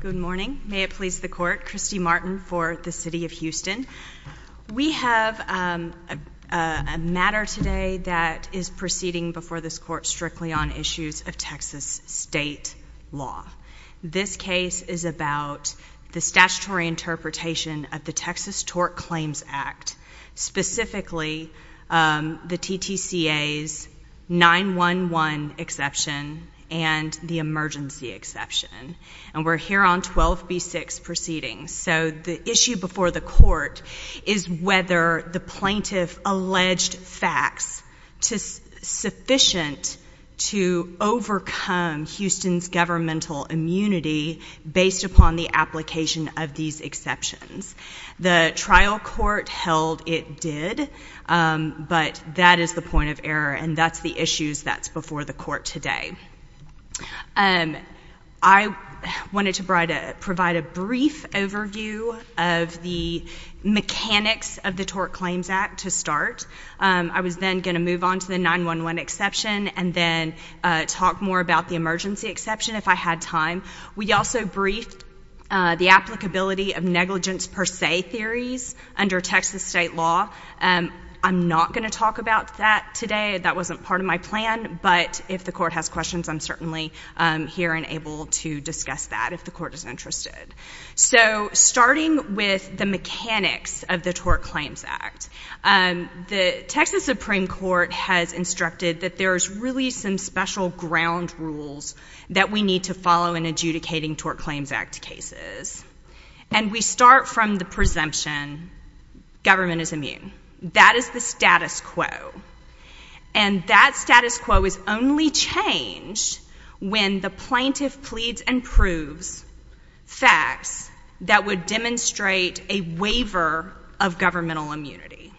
Good morning. May it please the court, Christy Martin for the City of Houston. We have a matter today that is proceeding before this court strictly on issues of Texas state law. This case is about the statutory interpretation of the Texas Tort Claims Act, specifically the TTCA's 911 exception and the emergency exception. And we're here on 12b6 proceedings. So the issue before the court is whether the plaintiff alleged facts to sufficient to overcome Houston's governmental immunity based upon the application of these exceptions. The trial court held it did, but that is the point of error and that's the issues that's before the court today. I wanted to provide a brief overview of the mechanics of the Tort Claims Act to start. I was then going to move on to the 911 exception and then talk more about the emergency exception if I had time. We also briefed the applicability of negligence per se theories under Texas state law. I'm not going to talk about that today. That wasn't part of my plan, but if the court has questions, I'm certainly here and able to discuss that if the court is interested. So starting with the mechanics of the Tort Claims Act, the Texas Supreme Court has instructed that there's really some special ground rules that we need to follow in adjudicating Tort Claims Act cases. And we start from the presumption government is immune. That is the status quo. And that status quo is only changed when the plaintiff pleads and proves facts that demonstrate a waiver of governmental immunity.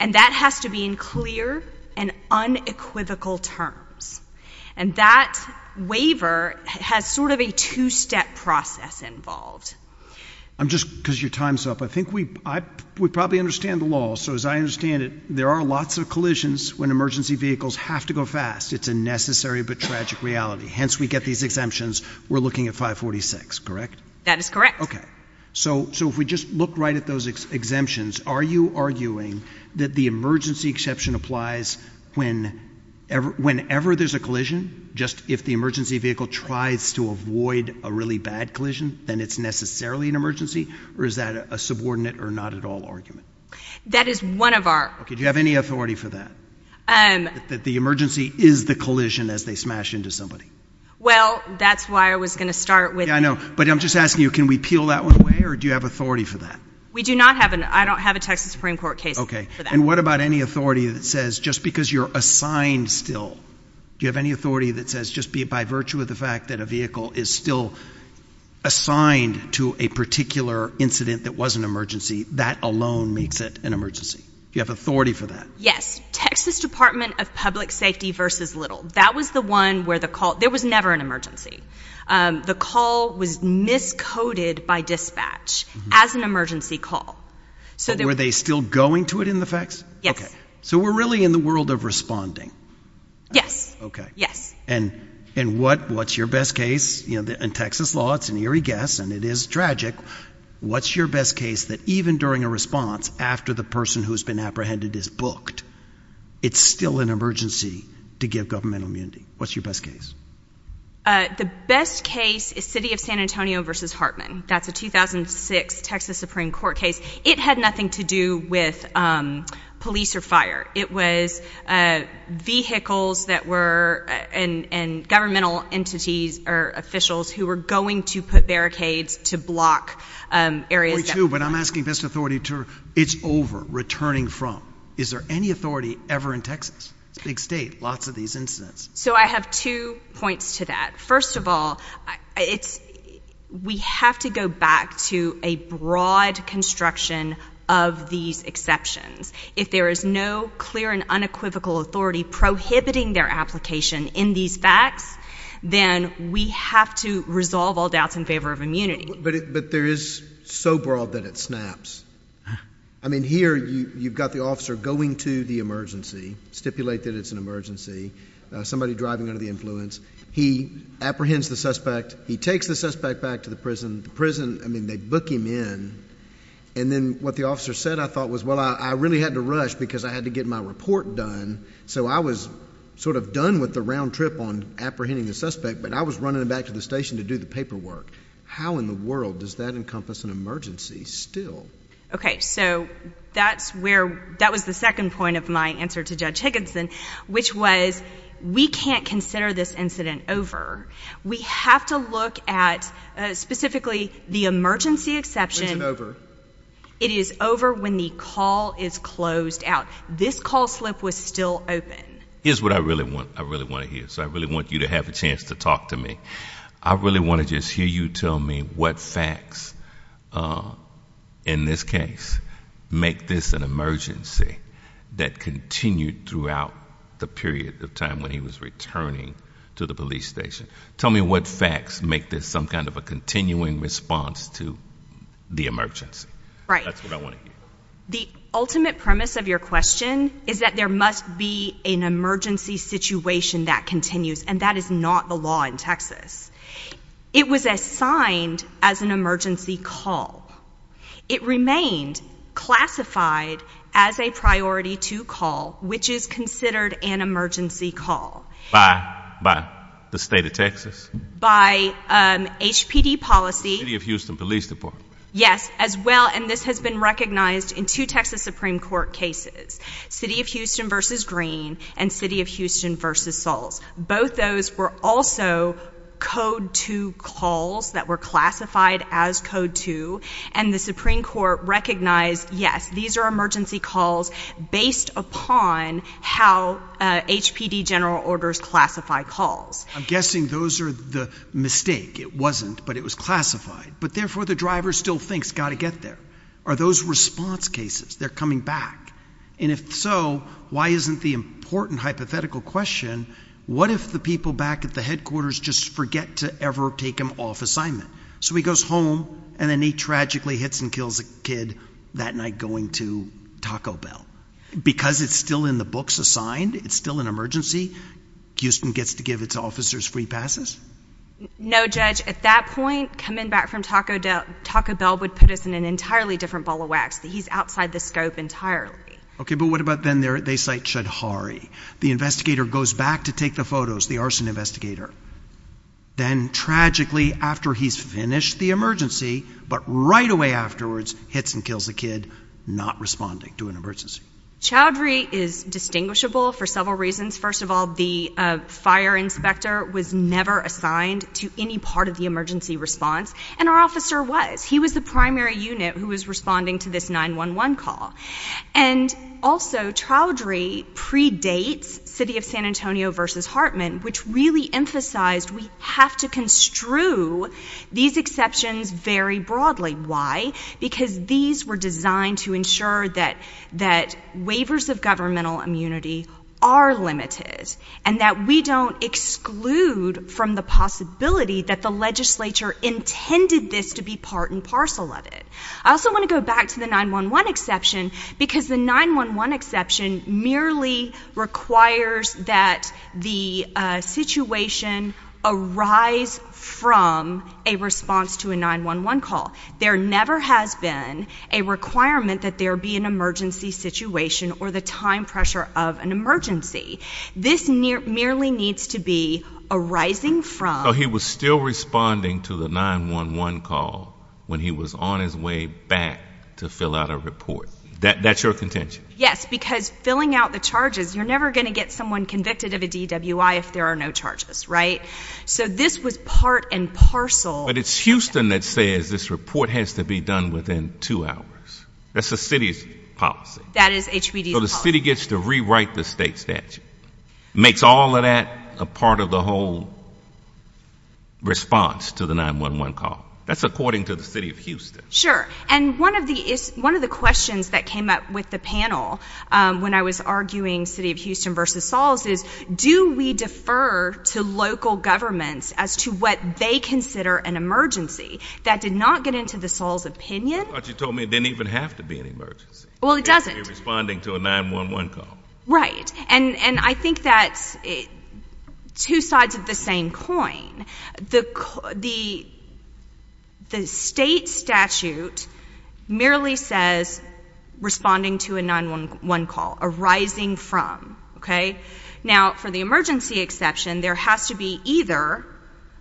And that has to be in clear and unequivocal terms. And that waiver has sort of a two-step process involved. I'm just, because your time's up, I think we probably understand the law. So as I understand it, there are lots of collisions when emergency vehicles have to go fast. It's a necessary but tragic reality. Hence, we get these exemptions. We're looking at 546, correct? That is correct. Okay. So if we just look right at those exemptions, are you arguing that the emergency exception applies whenever there's a collision? Just if the emergency vehicle tries to avoid a really bad collision, then it's necessarily an emergency? Or is that a subordinate or not at all argument? That is one of our... Okay. Do you have any authority for that? That the emergency is the collision as they smash into somebody? Well, that's why I was going to start with... But I'm just asking you, can we peel that one away? Or do you have authority for that? We do not have an... I don't have a Texas Supreme Court case for that. And what about any authority that says, just because you're assigned still, do you have any authority that says, just be it by virtue of the fact that a vehicle is still assigned to a particular incident that was an emergency, that alone makes it an emergency? Do you have authority for that? Yes. Texas Department of Public Safety versus Little. That was the one where the call... There was never an emergency. The call was miscoded by dispatch as an emergency call. Were they still going to it in the facts? Yes. So we're really in the world of responding? Yes. Okay. Yes. And what's your best case? In Texas law, it's an eerie guess, and it is tragic. What's your best case that even during a response, after the person who's been apprehended is booked, it's still an emergency to give governmental immunity? What's your best case? The best case is City of San Antonio versus Hartman. That's a 2006 Texas Supreme Court case. It had nothing to do with police or fire. It was vehicles that were... and governmental entities or officials who were going to put barricades to block areas that... 42, but I'm asking best authority to... It's over, returning from. Is there any authority ever in Texas? It's a big state, lots of these incidents. So I have two points to that. First of all, we have to go back to a broad construction of these exceptions. If there is no clear and unequivocal authority prohibiting their application in these facts, then we have to resolve all doubts in favor of immunity. But there is so broad that it snaps. I mean, here you've got the officer going to the emergency, stipulate that it's an emergency, somebody driving under the influence. He apprehends the suspect. He takes the suspect back to the prison. The prison, I mean, they book him in. And then what the officer said, I thought was, well, I really had to rush because I had to get my report done. So I was sort of done with the round trip on apprehending the suspect, but I was running back to the station to do the paperwork. How in the world does that encompass an emergency still? Okay, so that's where... that was the judge Higginson, which was, we can't consider this incident over. We have to look at specifically the emergency exception. It is over when the call is closed out. This call slip was still open. Here's what I really want to hear. So I really want you to have a chance to talk to me. I really want to just hear you tell me what facts in this case make this an emergency that continued throughout the period of time when he was returning to the police station. Tell me what facts make this some kind of a continuing response to the emergency. Right. That's what I want to hear. The ultimate premise of your question is that there must be an emergency situation that continues, and that is not the law in Texas. It was assigned as an emergency call. It remained classified as a priority two call, which is considered an emergency call. By the state of Texas? By HPD policy. City of Houston Police Department. Yes, as well, and this has been recognized in two Texas Supreme Court cases, City of Houston v. Green and City of Houston v. Sahls. Both those were also code two calls that were classified as code two, and the Supreme Court recognized, yes, these are emergency calls based upon how HPD general orders classify calls. I'm guessing those are the mistake. It wasn't, but it was classified, but therefore the driver still thinks got to get there. Are those response cases? They're coming back, and if so, why isn't the important hypothetical question, what if the people back at the headquarters just forget to ever take him off assignment? So he goes home, and then he tragically hits and kills a kid that night going to Taco Bell. Because it's still in the books assigned, it's still an emergency, Houston gets to give its officers free passes? No, Judge. At that point, coming back from Taco Bell would put us in an entirely different ball of wax, that he's outside the scope entirely. Okay, but what about then they cite Choudhury? The investigator goes back to take the photos, the arson investigator, then tragically after he's finished the emergency, but right away afterwards, hits and kills a kid not responding to an emergency. Choudhury is distinguishable for several reasons. First of all, the fire inspector was never assigned to any part of the emergency response, and our officer was. He was the primary unit who was responding to this 911 call. And also, Choudhury predates City of San Antonio versus Hartman, which really emphasized we have to construe these exceptions very broadly. Why? Because these were designed to ensure that waivers of governmental immunity are limited, and that we don't exclude from the possibility that the legislature intended this to be part and parcel of it. I also want to go back to the 911 exception, because the 911 exception merely requires that the situation arise from a response to a 911 call. There never has been a requirement that there be an emergency situation or the time pressure of an emergency. This merely needs to be arising from... So he was still responding to the 911 call when he was on his way back to fill out a report. That's your contention? Yes, because filling out the charges, you're never going to get someone convicted of a DWI if there are no charges, right? So this was part and parcel... But it's Houston that says this report has to be done within two hours. That's the City's policy. That is HBD's policy. So the City gets to rewrite the State statute. Makes all of that a part of the whole response to the 911 call. That's according to the City of Houston. Sure. And one of the questions that came up with the panel when I was arguing City of Houston versus Sahls is, do we defer to local governments as to what they consider an emergency? That did not get into the Sahls' opinion. I thought you told me it didn't even have to be an emergency. Well, it doesn't. It has to be responding to a 911 call. Right. And I think that's two sides of the same coin. The State statute merely says responding to a 911 call, arising from. Okay. Now, for the emergency exception, there has to be either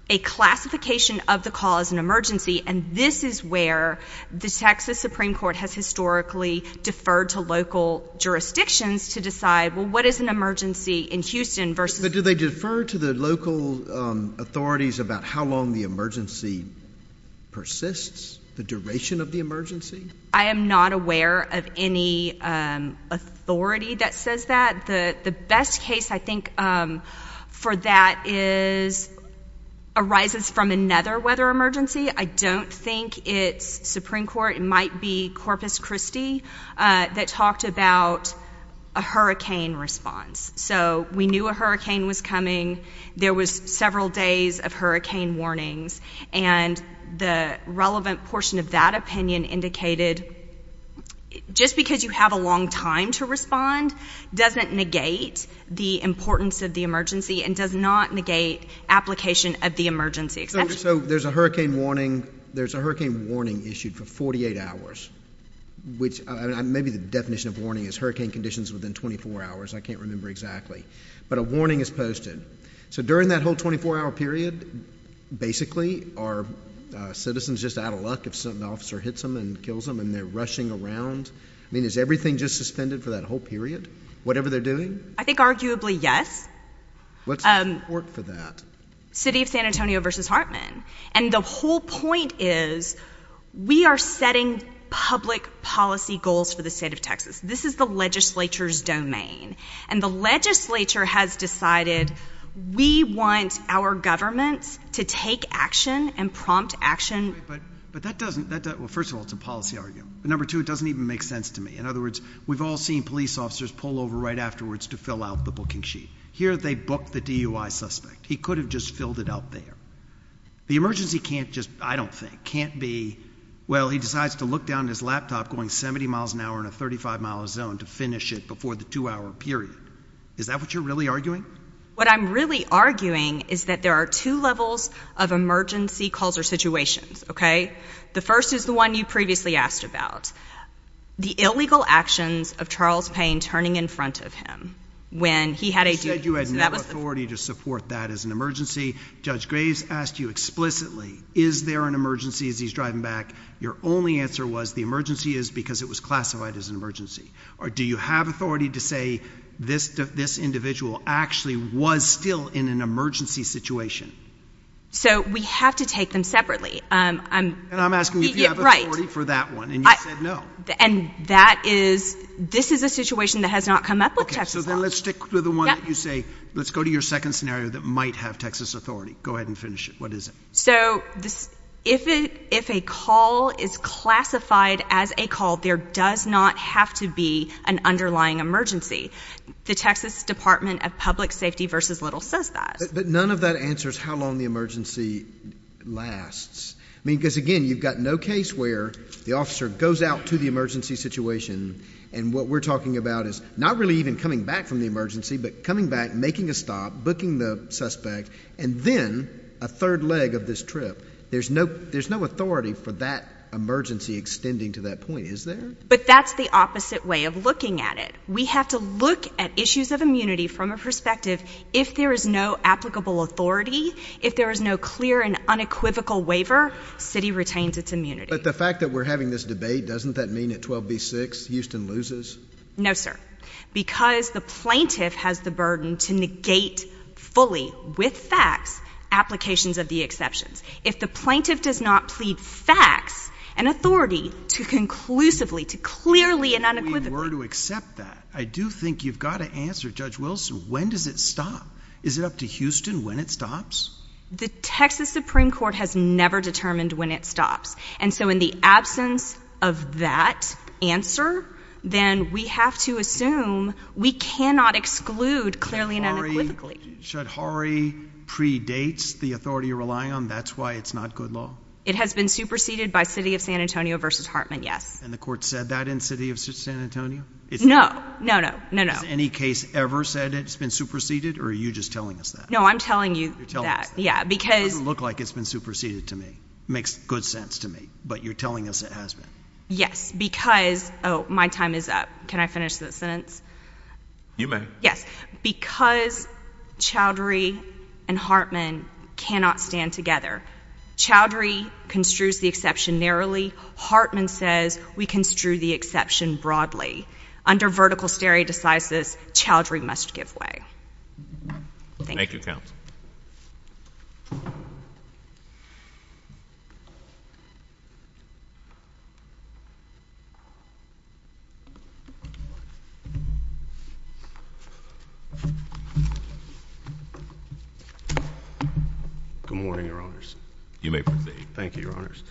a classification of the call as an emergency, and this is where the Texas Supreme Court has historically deferred to local jurisdictions to decide, well, what is an emergency in Houston versus... But do they defer to the local authorities about how long the emergency persists, the duration of the emergency? I am not aware of any authority that says that. The best case, I think, for that arises from another weather emergency. I don't think it's Supreme Court. It might be Corpus Christi that talked about a hurricane response. So we knew a hurricane was coming. There was several days of hurricane response. So just because you have a long time to respond doesn't negate the importance of the emergency and does not negate application of the emergency exception. So there's a hurricane warning issued for 48 hours, which maybe the definition of warning is hurricane conditions within 24 hours. I can't remember exactly. But a warning is posted. So during that whole 24-hour period, basically, are citizens just out of luck if an officer hits them and kills them and they're rushing around? I mean, is everything just suspended for that whole period, whatever they're doing? I think arguably, yes. What's the support for that? City of San Antonio versus Hartman. And the whole point is, we are setting public policy goals for the state of Texas. This is the legislature's domain. And the legislature has decided we want our governments to take action and prompt action. But that doesn't, well, first of all, it's a policy argument. But number two, it doesn't even make sense to me. In other words, we've all seen police officers pull over right afterwards to fill out the booking sheet. Here, they booked the DUI suspect. He could have just filled it out there. The emergency can't just, I don't think, can't be, well, he decides to look down at his laptop going 70 miles an hour in a 35-mile zone to finish it before the two-hour period. Is that what you're really arguing? What I'm really arguing is that there are two levels of emergency calls or situations, okay? The first is the one you previously asked about. The illegal actions of Charles Payne turning in front of him when he had a DUI. You said you had no authority to support that as an emergency. Judge Graves asked you explicitly, is there an emergency as he's driving back? Your only answer was the emergency is because it was classified as an emergency. Or do you have authority to say this individual actually was still in an emergency situation? So we have to take them separately. And I'm asking if you have authority for that one, and you said no. And that is, this is a situation that has not come up with Texas law. So then let's stick with the one that you say, let's go to your second scenario that might have Texas authority. Go ahead and finish it. What is it? So if a call is classified as a call, there does not have to be an underlying emergency. The Texas Department of Public Safety v. Little says that. But none of that answers how long the emergency lasts. I mean, because again, you've got no case where the officer goes out to the emergency situation, and what we're talking about is not really even coming back from the emergency, but coming back, making a stop, booking the suspect, and then a third leg of this trip. There's no authority for that emergency extending to that point, is there? But that's the opposite way of looking at it. We have to look at issues of immunity from a perspective, if there is no applicable authority, if there is no clear and unequivocal waiver, city retains its immunity. But the fact that we're having this debate, doesn't that mean at 12B6, Houston loses? No, sir. Because the plaintiff has the burden to negate fully, with facts, applications of the exceptions. If the plaintiff does not plead facts, an authority to conclusively, to clearly and unequivocally- If we were to accept that, I do think you've got to answer, Judge Wilson, when does it stop? Is it up to Houston when it stops? The Texas Supreme Court has never determined when it stops. And so in the absence of that answer, then we have to assume we cannot exclude clearly and unequivocally. Should Horry predate the authority you're relying on? That's why it's not good law? It has been superseded by City of San Antonio versus Hartman, yes. And the court said that in City of San Antonio? No, no, no, no, no. Has any case ever said it's been superseded, or are you just telling us that? No, I'm telling you that. Yeah, because- It doesn't look like it's been superseded to me. Makes good sense to me. But you're telling us it has been? Yes, because- Oh, my time is up. Can I finish that sentence? You may. Yes. Because Chaudhry and Hartman cannot stand together. Chaudhry construes the exception narrowly. Hartman says we construe the exception broadly. Under vertical stare decisis, Chaudhry must give way. Thank you. Counsel. Good morning, Your Honors. You may proceed. Thank you, Your Honors.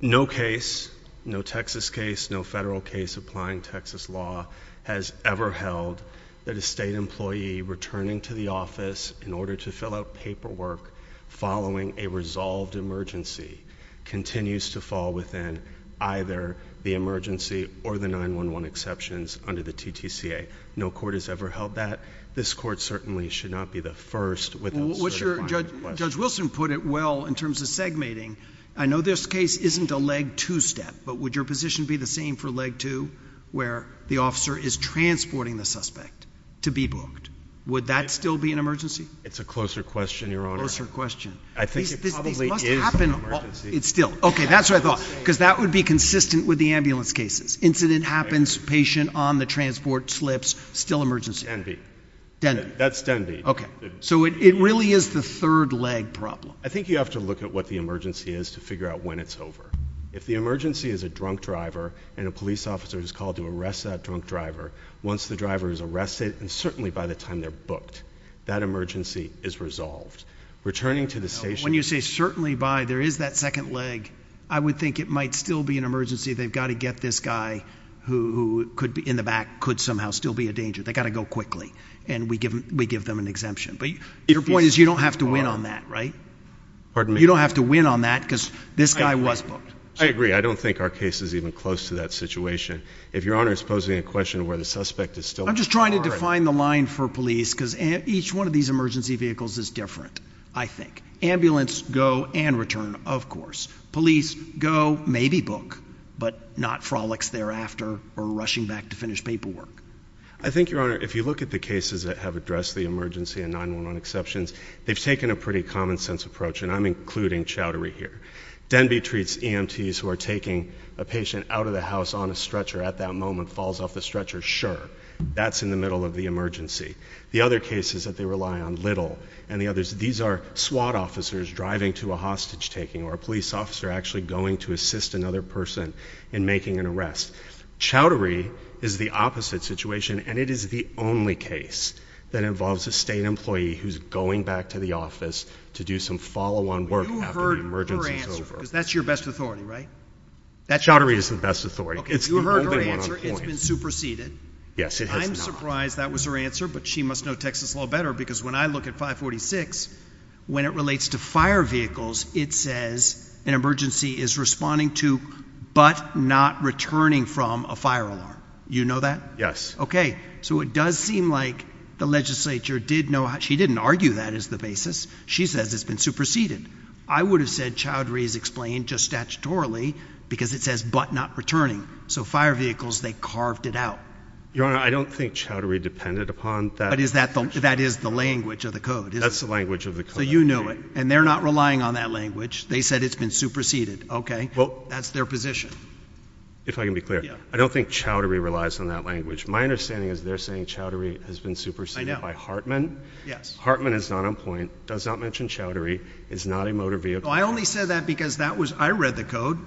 No case, no Texas case, no federal case applying Texas law has ever held that a state employee returning to the office in order to fill out paperwork following a resolved emergency continues to fall within either the emergency or the 9-1-1 exceptions under the TTCA. No court has ever held that. This court certainly should not be the first without certifying the question. Judge Wilson put it well in terms of segmenting. I know this case isn't a leg two step, but would your position be the same for leg two where the officer is transporting the suspect to be booked? Would that still be an emergency? It's a closer question, Your Honor. Closer question. I think it probably is an emergency. It's still. Okay, that's what I thought, because that would be consistent with the ambulance cases. Incident happens, patient on the transport slips, still emergency. Denby. That's Denby. Okay. So it really is the third leg problem. I think you have to look at what the emergency is to figure out when it's over. If the emergency is a drunk driver and a police officer is called to arrest that drunk driver, once the driver is arrested, and certainly by the time they're booked, that emergency is resolved. Returning to the station. When you say certainly by, there is that second leg. I would think it might still be an emergency. They've got to get this guy who could be in the back, could somehow still be a danger. They got to go quickly. And we give them an exemption. But your point is you don't have to win on that, right? Pardon me? You don't have to win on that because this guy was booked. I agree. I don't think our case is even close to that situation. If your honor is posing a question where the suspect is still. I'm just trying to define the line for police because each one of these emergency vehicles is different. I think ambulance go and return. Of course, police go maybe book, but not frolics thereafter or rushing back to finish paperwork. I think your honor, if you look at the cases that have addressed the emergency and 911 exceptions, they've taken a pretty common sense approach and I'm including chowdery here. Denby treats EMTs who are taking a patient out of the house on a stretcher at that moment, falls off the stretcher, sure. That's in the middle of the emergency. The other cases that they rely on little and the others, these are SWAT officers driving to a hostage taking or a police officer actually going to assist another person in making an arrest. Chowdery is the opposite situation and it is the only case that involves a state employee who's going back to the office to do some follow on work after the emergency is over. That's your best authority, right? Chowdery is the best authority. It's the only one on point. It's been superseded. Yes, it has not. I'm surprised that was her answer, but she must know Texas law better because when I look at 546, when it relates to fire vehicles, it says an emergency is responding to, but not returning from a fire alarm. You know that? Yes. So it does seem like the legislature did know, she didn't argue that as the basis. She says it's been superseded. I would have said Chowdery is explained just statutorily because it says, but not returning. So fire vehicles, they carved it out. Your Honor, I don't think Chowdery depended upon that. That is the language of the code. That's the language of the code. So you know it and they're not relying on that language. They said it's been superseded. Okay. That's their position. If I can be clear, I don't think Chowdery relies on that language. My understanding is they're saying Chowdery has been superseded by Hartman. Yes. Hartman is not on point, does not mention Chowdery, is not a motor vehicle. I only said that because that was, I read the code.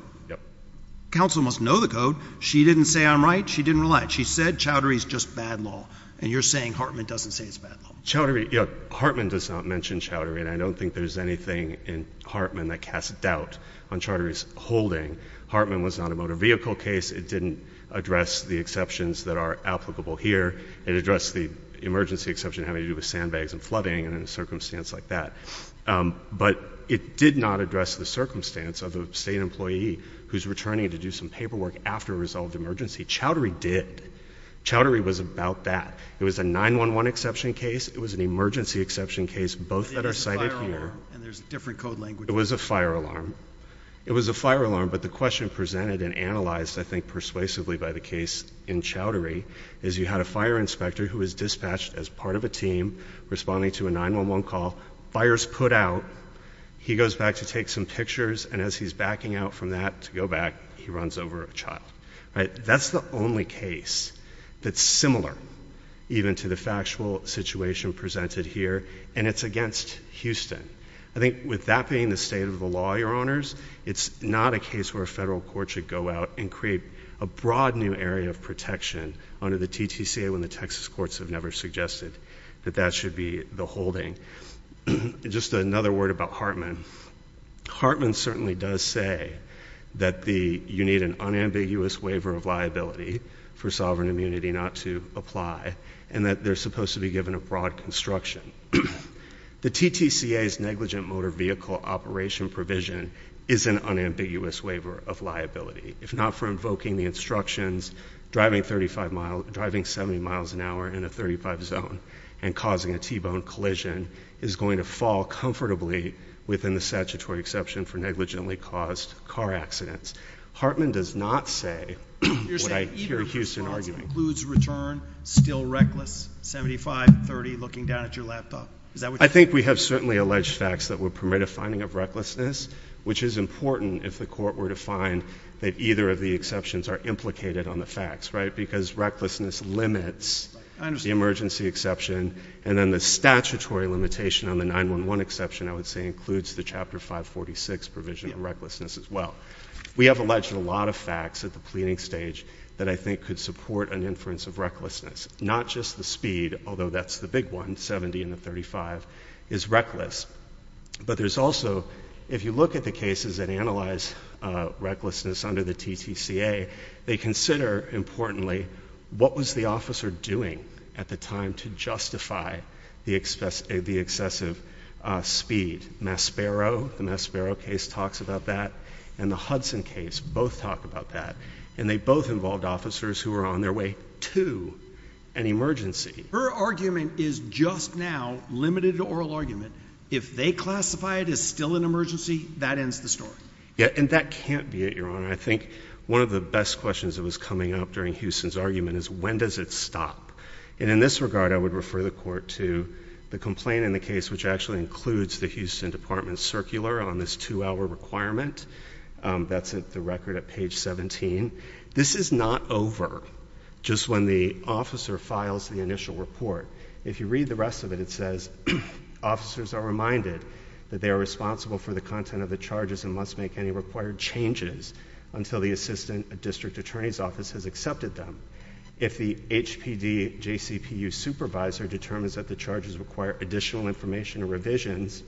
Counsel must know the code. She didn't say I'm right. She didn't rely. She said Chowdery is just bad law. And you're saying Hartman doesn't say it's bad law. Chowdery, yeah, Hartman does not mention Chowdery. And I don't think there's anything in Hartman that casts doubt on Chowdery's holding. Hartman was not a motor vehicle case. It didn't address the exceptions that are applicable here. It addressed the emergency exception having to do with sandbags and flooding and in a circumstance like that. But it did not address the circumstance of a state employee who's returning to do some paperwork after a resolved emergency. Chowdery did. Chowdery was about that. It was a 9-1-1 exception case. It was an emergency exception case, both that are cited here. And there's a different code language. It was a fire alarm. It was a fire alarm, but the question presented and analyzed, I think, persuasively by the case in Chowdery is you had a fire inspector who was dispatched as part of a team responding to a 9-1-1 call. Fire's put out. He goes back to take some pictures. And as he's backing out from that to go back, he runs over a child. That's the only case that's similar even to the factual situation presented here. And it's against Houston. I think with that being the state of the law, your honors, it's not a case where a federal court should go out and create a broad new area of protection under the TTCA when the Texas courts have never suggested that that should be the holding. Just another word about Hartman. Hartman certainly does say that you need an unambiguous waiver of liability for sovereign immunity not to apply and that they're supposed to be given a broad construction. The TTCA's negligent motor vehicle operation provision is an unambiguous waiver of liability. If not for invoking the instructions, driving 70 miles an hour in a 35 zone and causing a T-bone collision is going to fall comfortably within the statutory exception for negligently caused car accidents. Hartman does not say what I hear Houston arguing. It includes return, still reckless, 75, 30, looking down at your laptop. I think we have certainly alleged facts that would permit a finding of recklessness, which is important if the court were to find that either of the exceptions are implicated on the facts, right? Because recklessness limits the emergency exception. And then the statutory limitation on the 9-1-1 exception, I would say includes the Chapter 546 provision of recklessness as well. We have alleged a lot of facts at the pleading stage that I think could support an inference of recklessness. Not just the speed, although that's the big one, 70 in the 35, is reckless. But there's also, if you look at the cases that analyze recklessness under the TTCA, they consider, importantly, what was the officer doing at the time to justify the excessive speed? Maspero, the Maspero case talks about that and the Hudson case both talk about that. And they both involved officers who were on their way to an emergency. Her argument is just now limited to oral argument. If they classify it as still an emergency, that ends the story. Yeah, and that can't be it, Your Honor. I think one of the best questions that was coming up during Houston's argument is, when does it stop? And in this regard, I would refer the court to the complaint in the case, which actually includes the Houston Department Circular on this two-hour requirement. That's the record at page 17. This is not over just when the officer files the initial report. If you read the rest of it, it says, officers are reminded that they are responsible for the content of the charges and must make any required changes until the assistant district attorney's office has accepted them. If the HPD JCPU supervisor determines that the charges require additional information or revisions,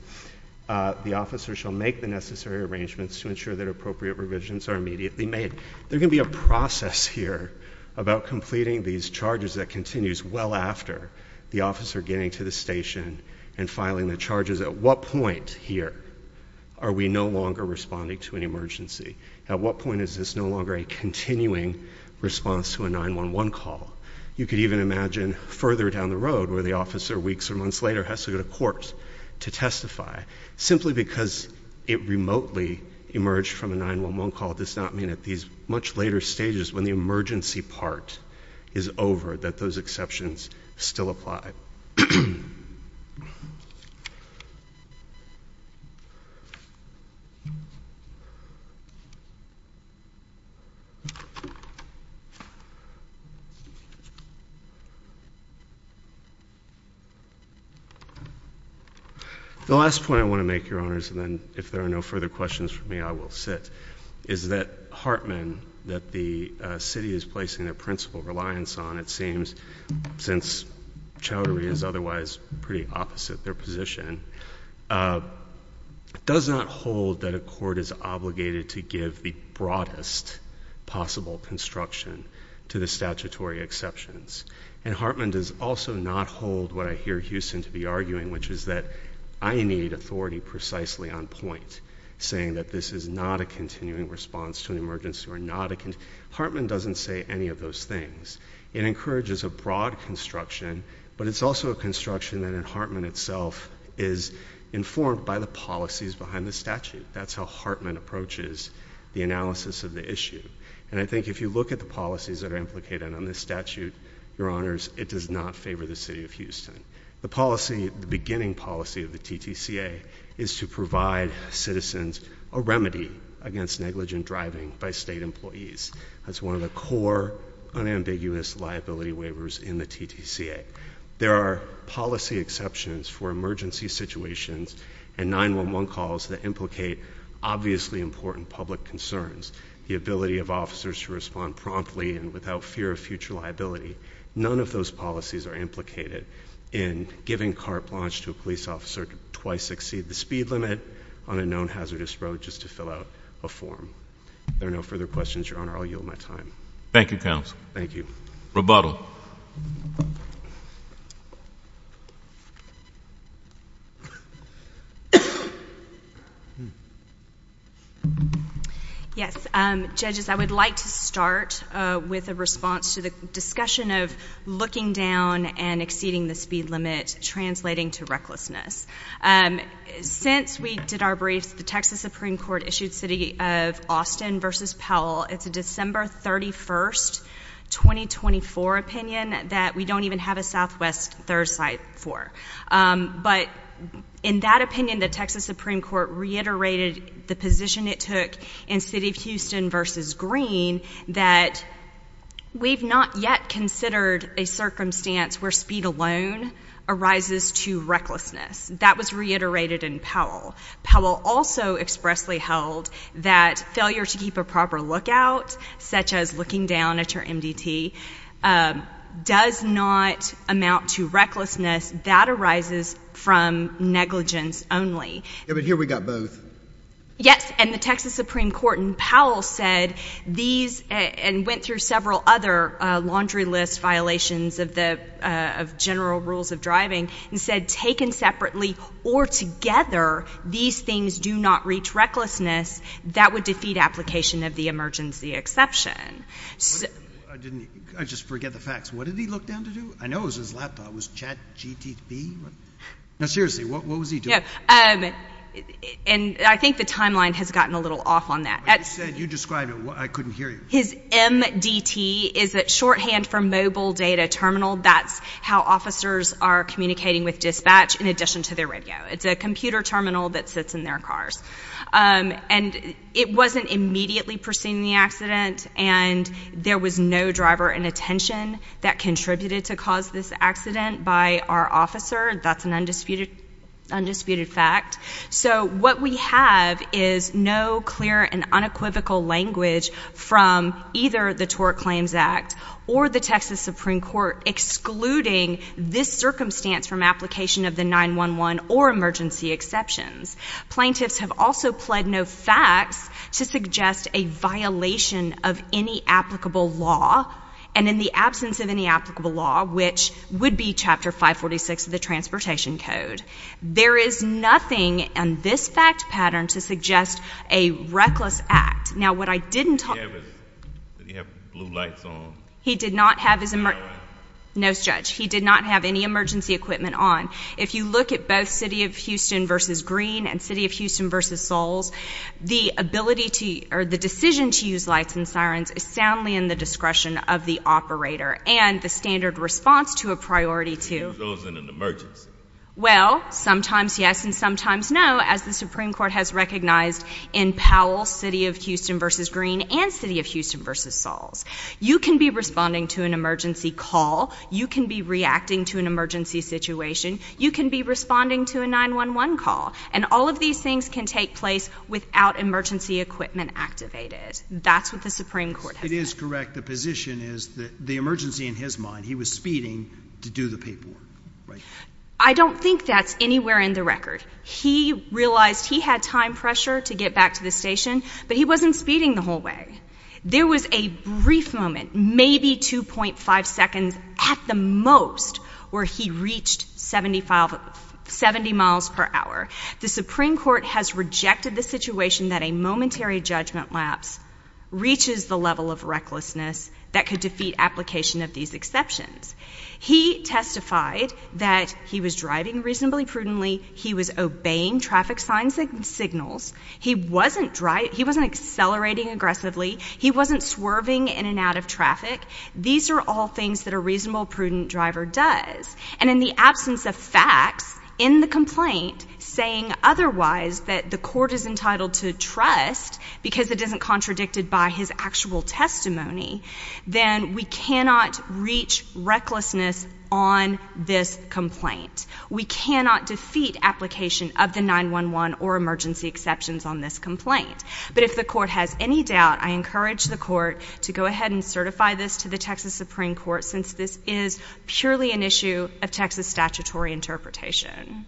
the officer shall make the necessary arrangements to ensure that appropriate revisions are immediately made. There can be a process here about completing these charges that continues well after the officer getting to the station and filing the charges. At what point here are we no longer responding to an emergency? At what point is this no longer a continuing response to a 911 call? You could even imagine further down the road where the officer, weeks or months later, has to go to court to testify, simply because it remotely emerged from a 911 call does not mean at these much later stages, when the emergency part is over, that those exceptions still apply. The last point I want to make, Your Honors, and then if there are no further questions for me, I will sit, is that Hartman, that the city is placing their principal reliance on, it seems, since chowdhury is otherwise pretty opposite their position, does not hold that a court is obligated to give the broadest possible construction to the statutory exceptions. And Hartman does also not hold what I hear Houston to be arguing, which is that I need authority precisely on point, saying that this is not a continuing response to an emergency. Hartman doesn't say any of those things. It encourages a broad construction, but it's also a construction that in Hartman itself is informed by the policies behind the statute. That's how Hartman approaches the analysis of the issue. And I think if you look at the policies that are implicated on this statute, Your Honors, it does not favor the city of Houston. The policy, the beginning policy of the TTCA is to provide citizens a remedy against negligent driving by state employees. That's one of the core unambiguous liability waivers in the TTCA. There are policy exceptions for emergency situations and 911 calls that implicate obviously important public concerns. The ability of officers to respond promptly and without fear of future liability. None of those policies are implicated in giving car plunge to a police officer to twice succeed the speed limit on a known hazardous road just to fill out a form. There are no further questions, Your Honor. I'll yield my time. Thank you, counsel. Thank you. Rebuttal. Yes. Judges, I would like to start with a response to the discussion of looking down and exceeding the speed limit, translating to recklessness. Since we did our briefs, the Texas Supreme Court issued City of Austin v. Powell. It's a December 31, 2024 opinion that we don't even have a southwest third site for. But in that opinion, the Texas Supreme Court reiterated the position it took in City of Houston v. Green that we've not yet considered a circumstance where speed alone arises to recklessness. That was reiterated in Powell. Powell also expressly held that failure to keep a proper lookout, such as looking down at your MDT, does not amount to recklessness. That arises from negligence only. But here we got both. Yes. And the Texas Supreme Court in Powell said these and went through several other laundry list violations of general rules of driving and said taken separately or together, these things do not reach recklessness. That would defeat application of the emergency exception. I just forget the facts. What did he look down to do? I know it was his laptop. Was it chat, GTP? No, seriously, what was he doing? And I think the timeline has gotten a little off on that. But you said, you described it. I couldn't hear you. His MDT is a shorthand for mobile data terminal. That's how officers are communicating with dispatch in addition to their radio. It's a computer terminal that sits in their cars. And it wasn't immediately preceding the accident. And there was no driver in attention that contributed to cause this accident by our officer. That's an undisputed fact. So what we have is no clear and unequivocal language from either the Tort Claims Act or the Texas Supreme Court excluding this circumstance from application of the 911 or emergency exceptions. Plaintiffs have also pled no facts to suggest a violation of any applicable law. And in the absence of any applicable law, which would be Chapter 546 of the Transportation Code, there is nothing in this fact pattern to suggest a reckless act. Now, what I didn't talk— Did he have blue lights on? He did not have his— No sirens? No, Judge. He did not have any emergency equipment on. If you look at both City of Houston v. Green and City of Houston v. Soles, the ability to—or the decision to use lights and sirens is soundly in the discretion of the operator and the standard response to a priority to— Well, sometimes yes and sometimes no, as the Supreme Court has recognized in Powell, City of Houston v. Green and City of Houston v. Soles. You can be responding to an emergency call. You can be reacting to an emergency situation. You can be responding to a 911 call. And all of these things can take place without emergency equipment activated. That's what the Supreme Court has said. It is correct. The position is that the emergency, in his mind, he was speeding to do the paperwork, right? I don't think that's anywhere in the record. He realized he had time pressure to get back to the station, but he wasn't speeding the whole way. There was a brief moment, maybe 2.5 seconds at the most, where he reached 70 miles per hour. The Supreme Court has rejected the situation that a momentary judgment lapse reaches the level of recklessness that could defeat application of these exceptions. He testified that he was driving reasonably prudently. He was obeying traffic signs and signals. He wasn't accelerating aggressively. He wasn't swerving in and out of traffic. These are all things that a reasonable, prudent driver does. And in the absence of facts in the complaint saying otherwise that the court is entitled to trust because it isn't contradicted by his actual testimony, then we cannot reach recklessness on this complaint. We cannot defeat application of the 911 or emergency exceptions on this complaint. But if the court has any doubt, I encourage the court to go ahead and certify this to the Texas Supreme Court since this is purely an issue of Texas statutory interpretation.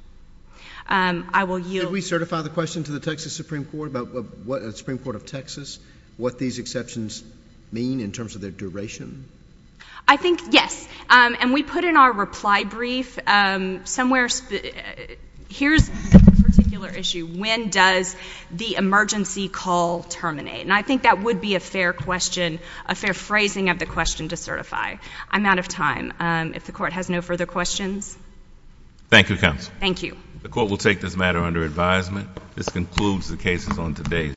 I will yield. Did we certify the question to the Texas Supreme Court, the Supreme Court of Texas, what these exceptions mean in terms of their duration? I think, yes. And we put in our reply brief somewhere, here's a particular issue. When does the emergency call terminate? And I think that would be a fair question, a fair phrasing of the question to certify. I'm out of time. If the court has no further questions. Thank you, counsel. Thank you. The court will take this matter under advisement. This concludes the cases on today.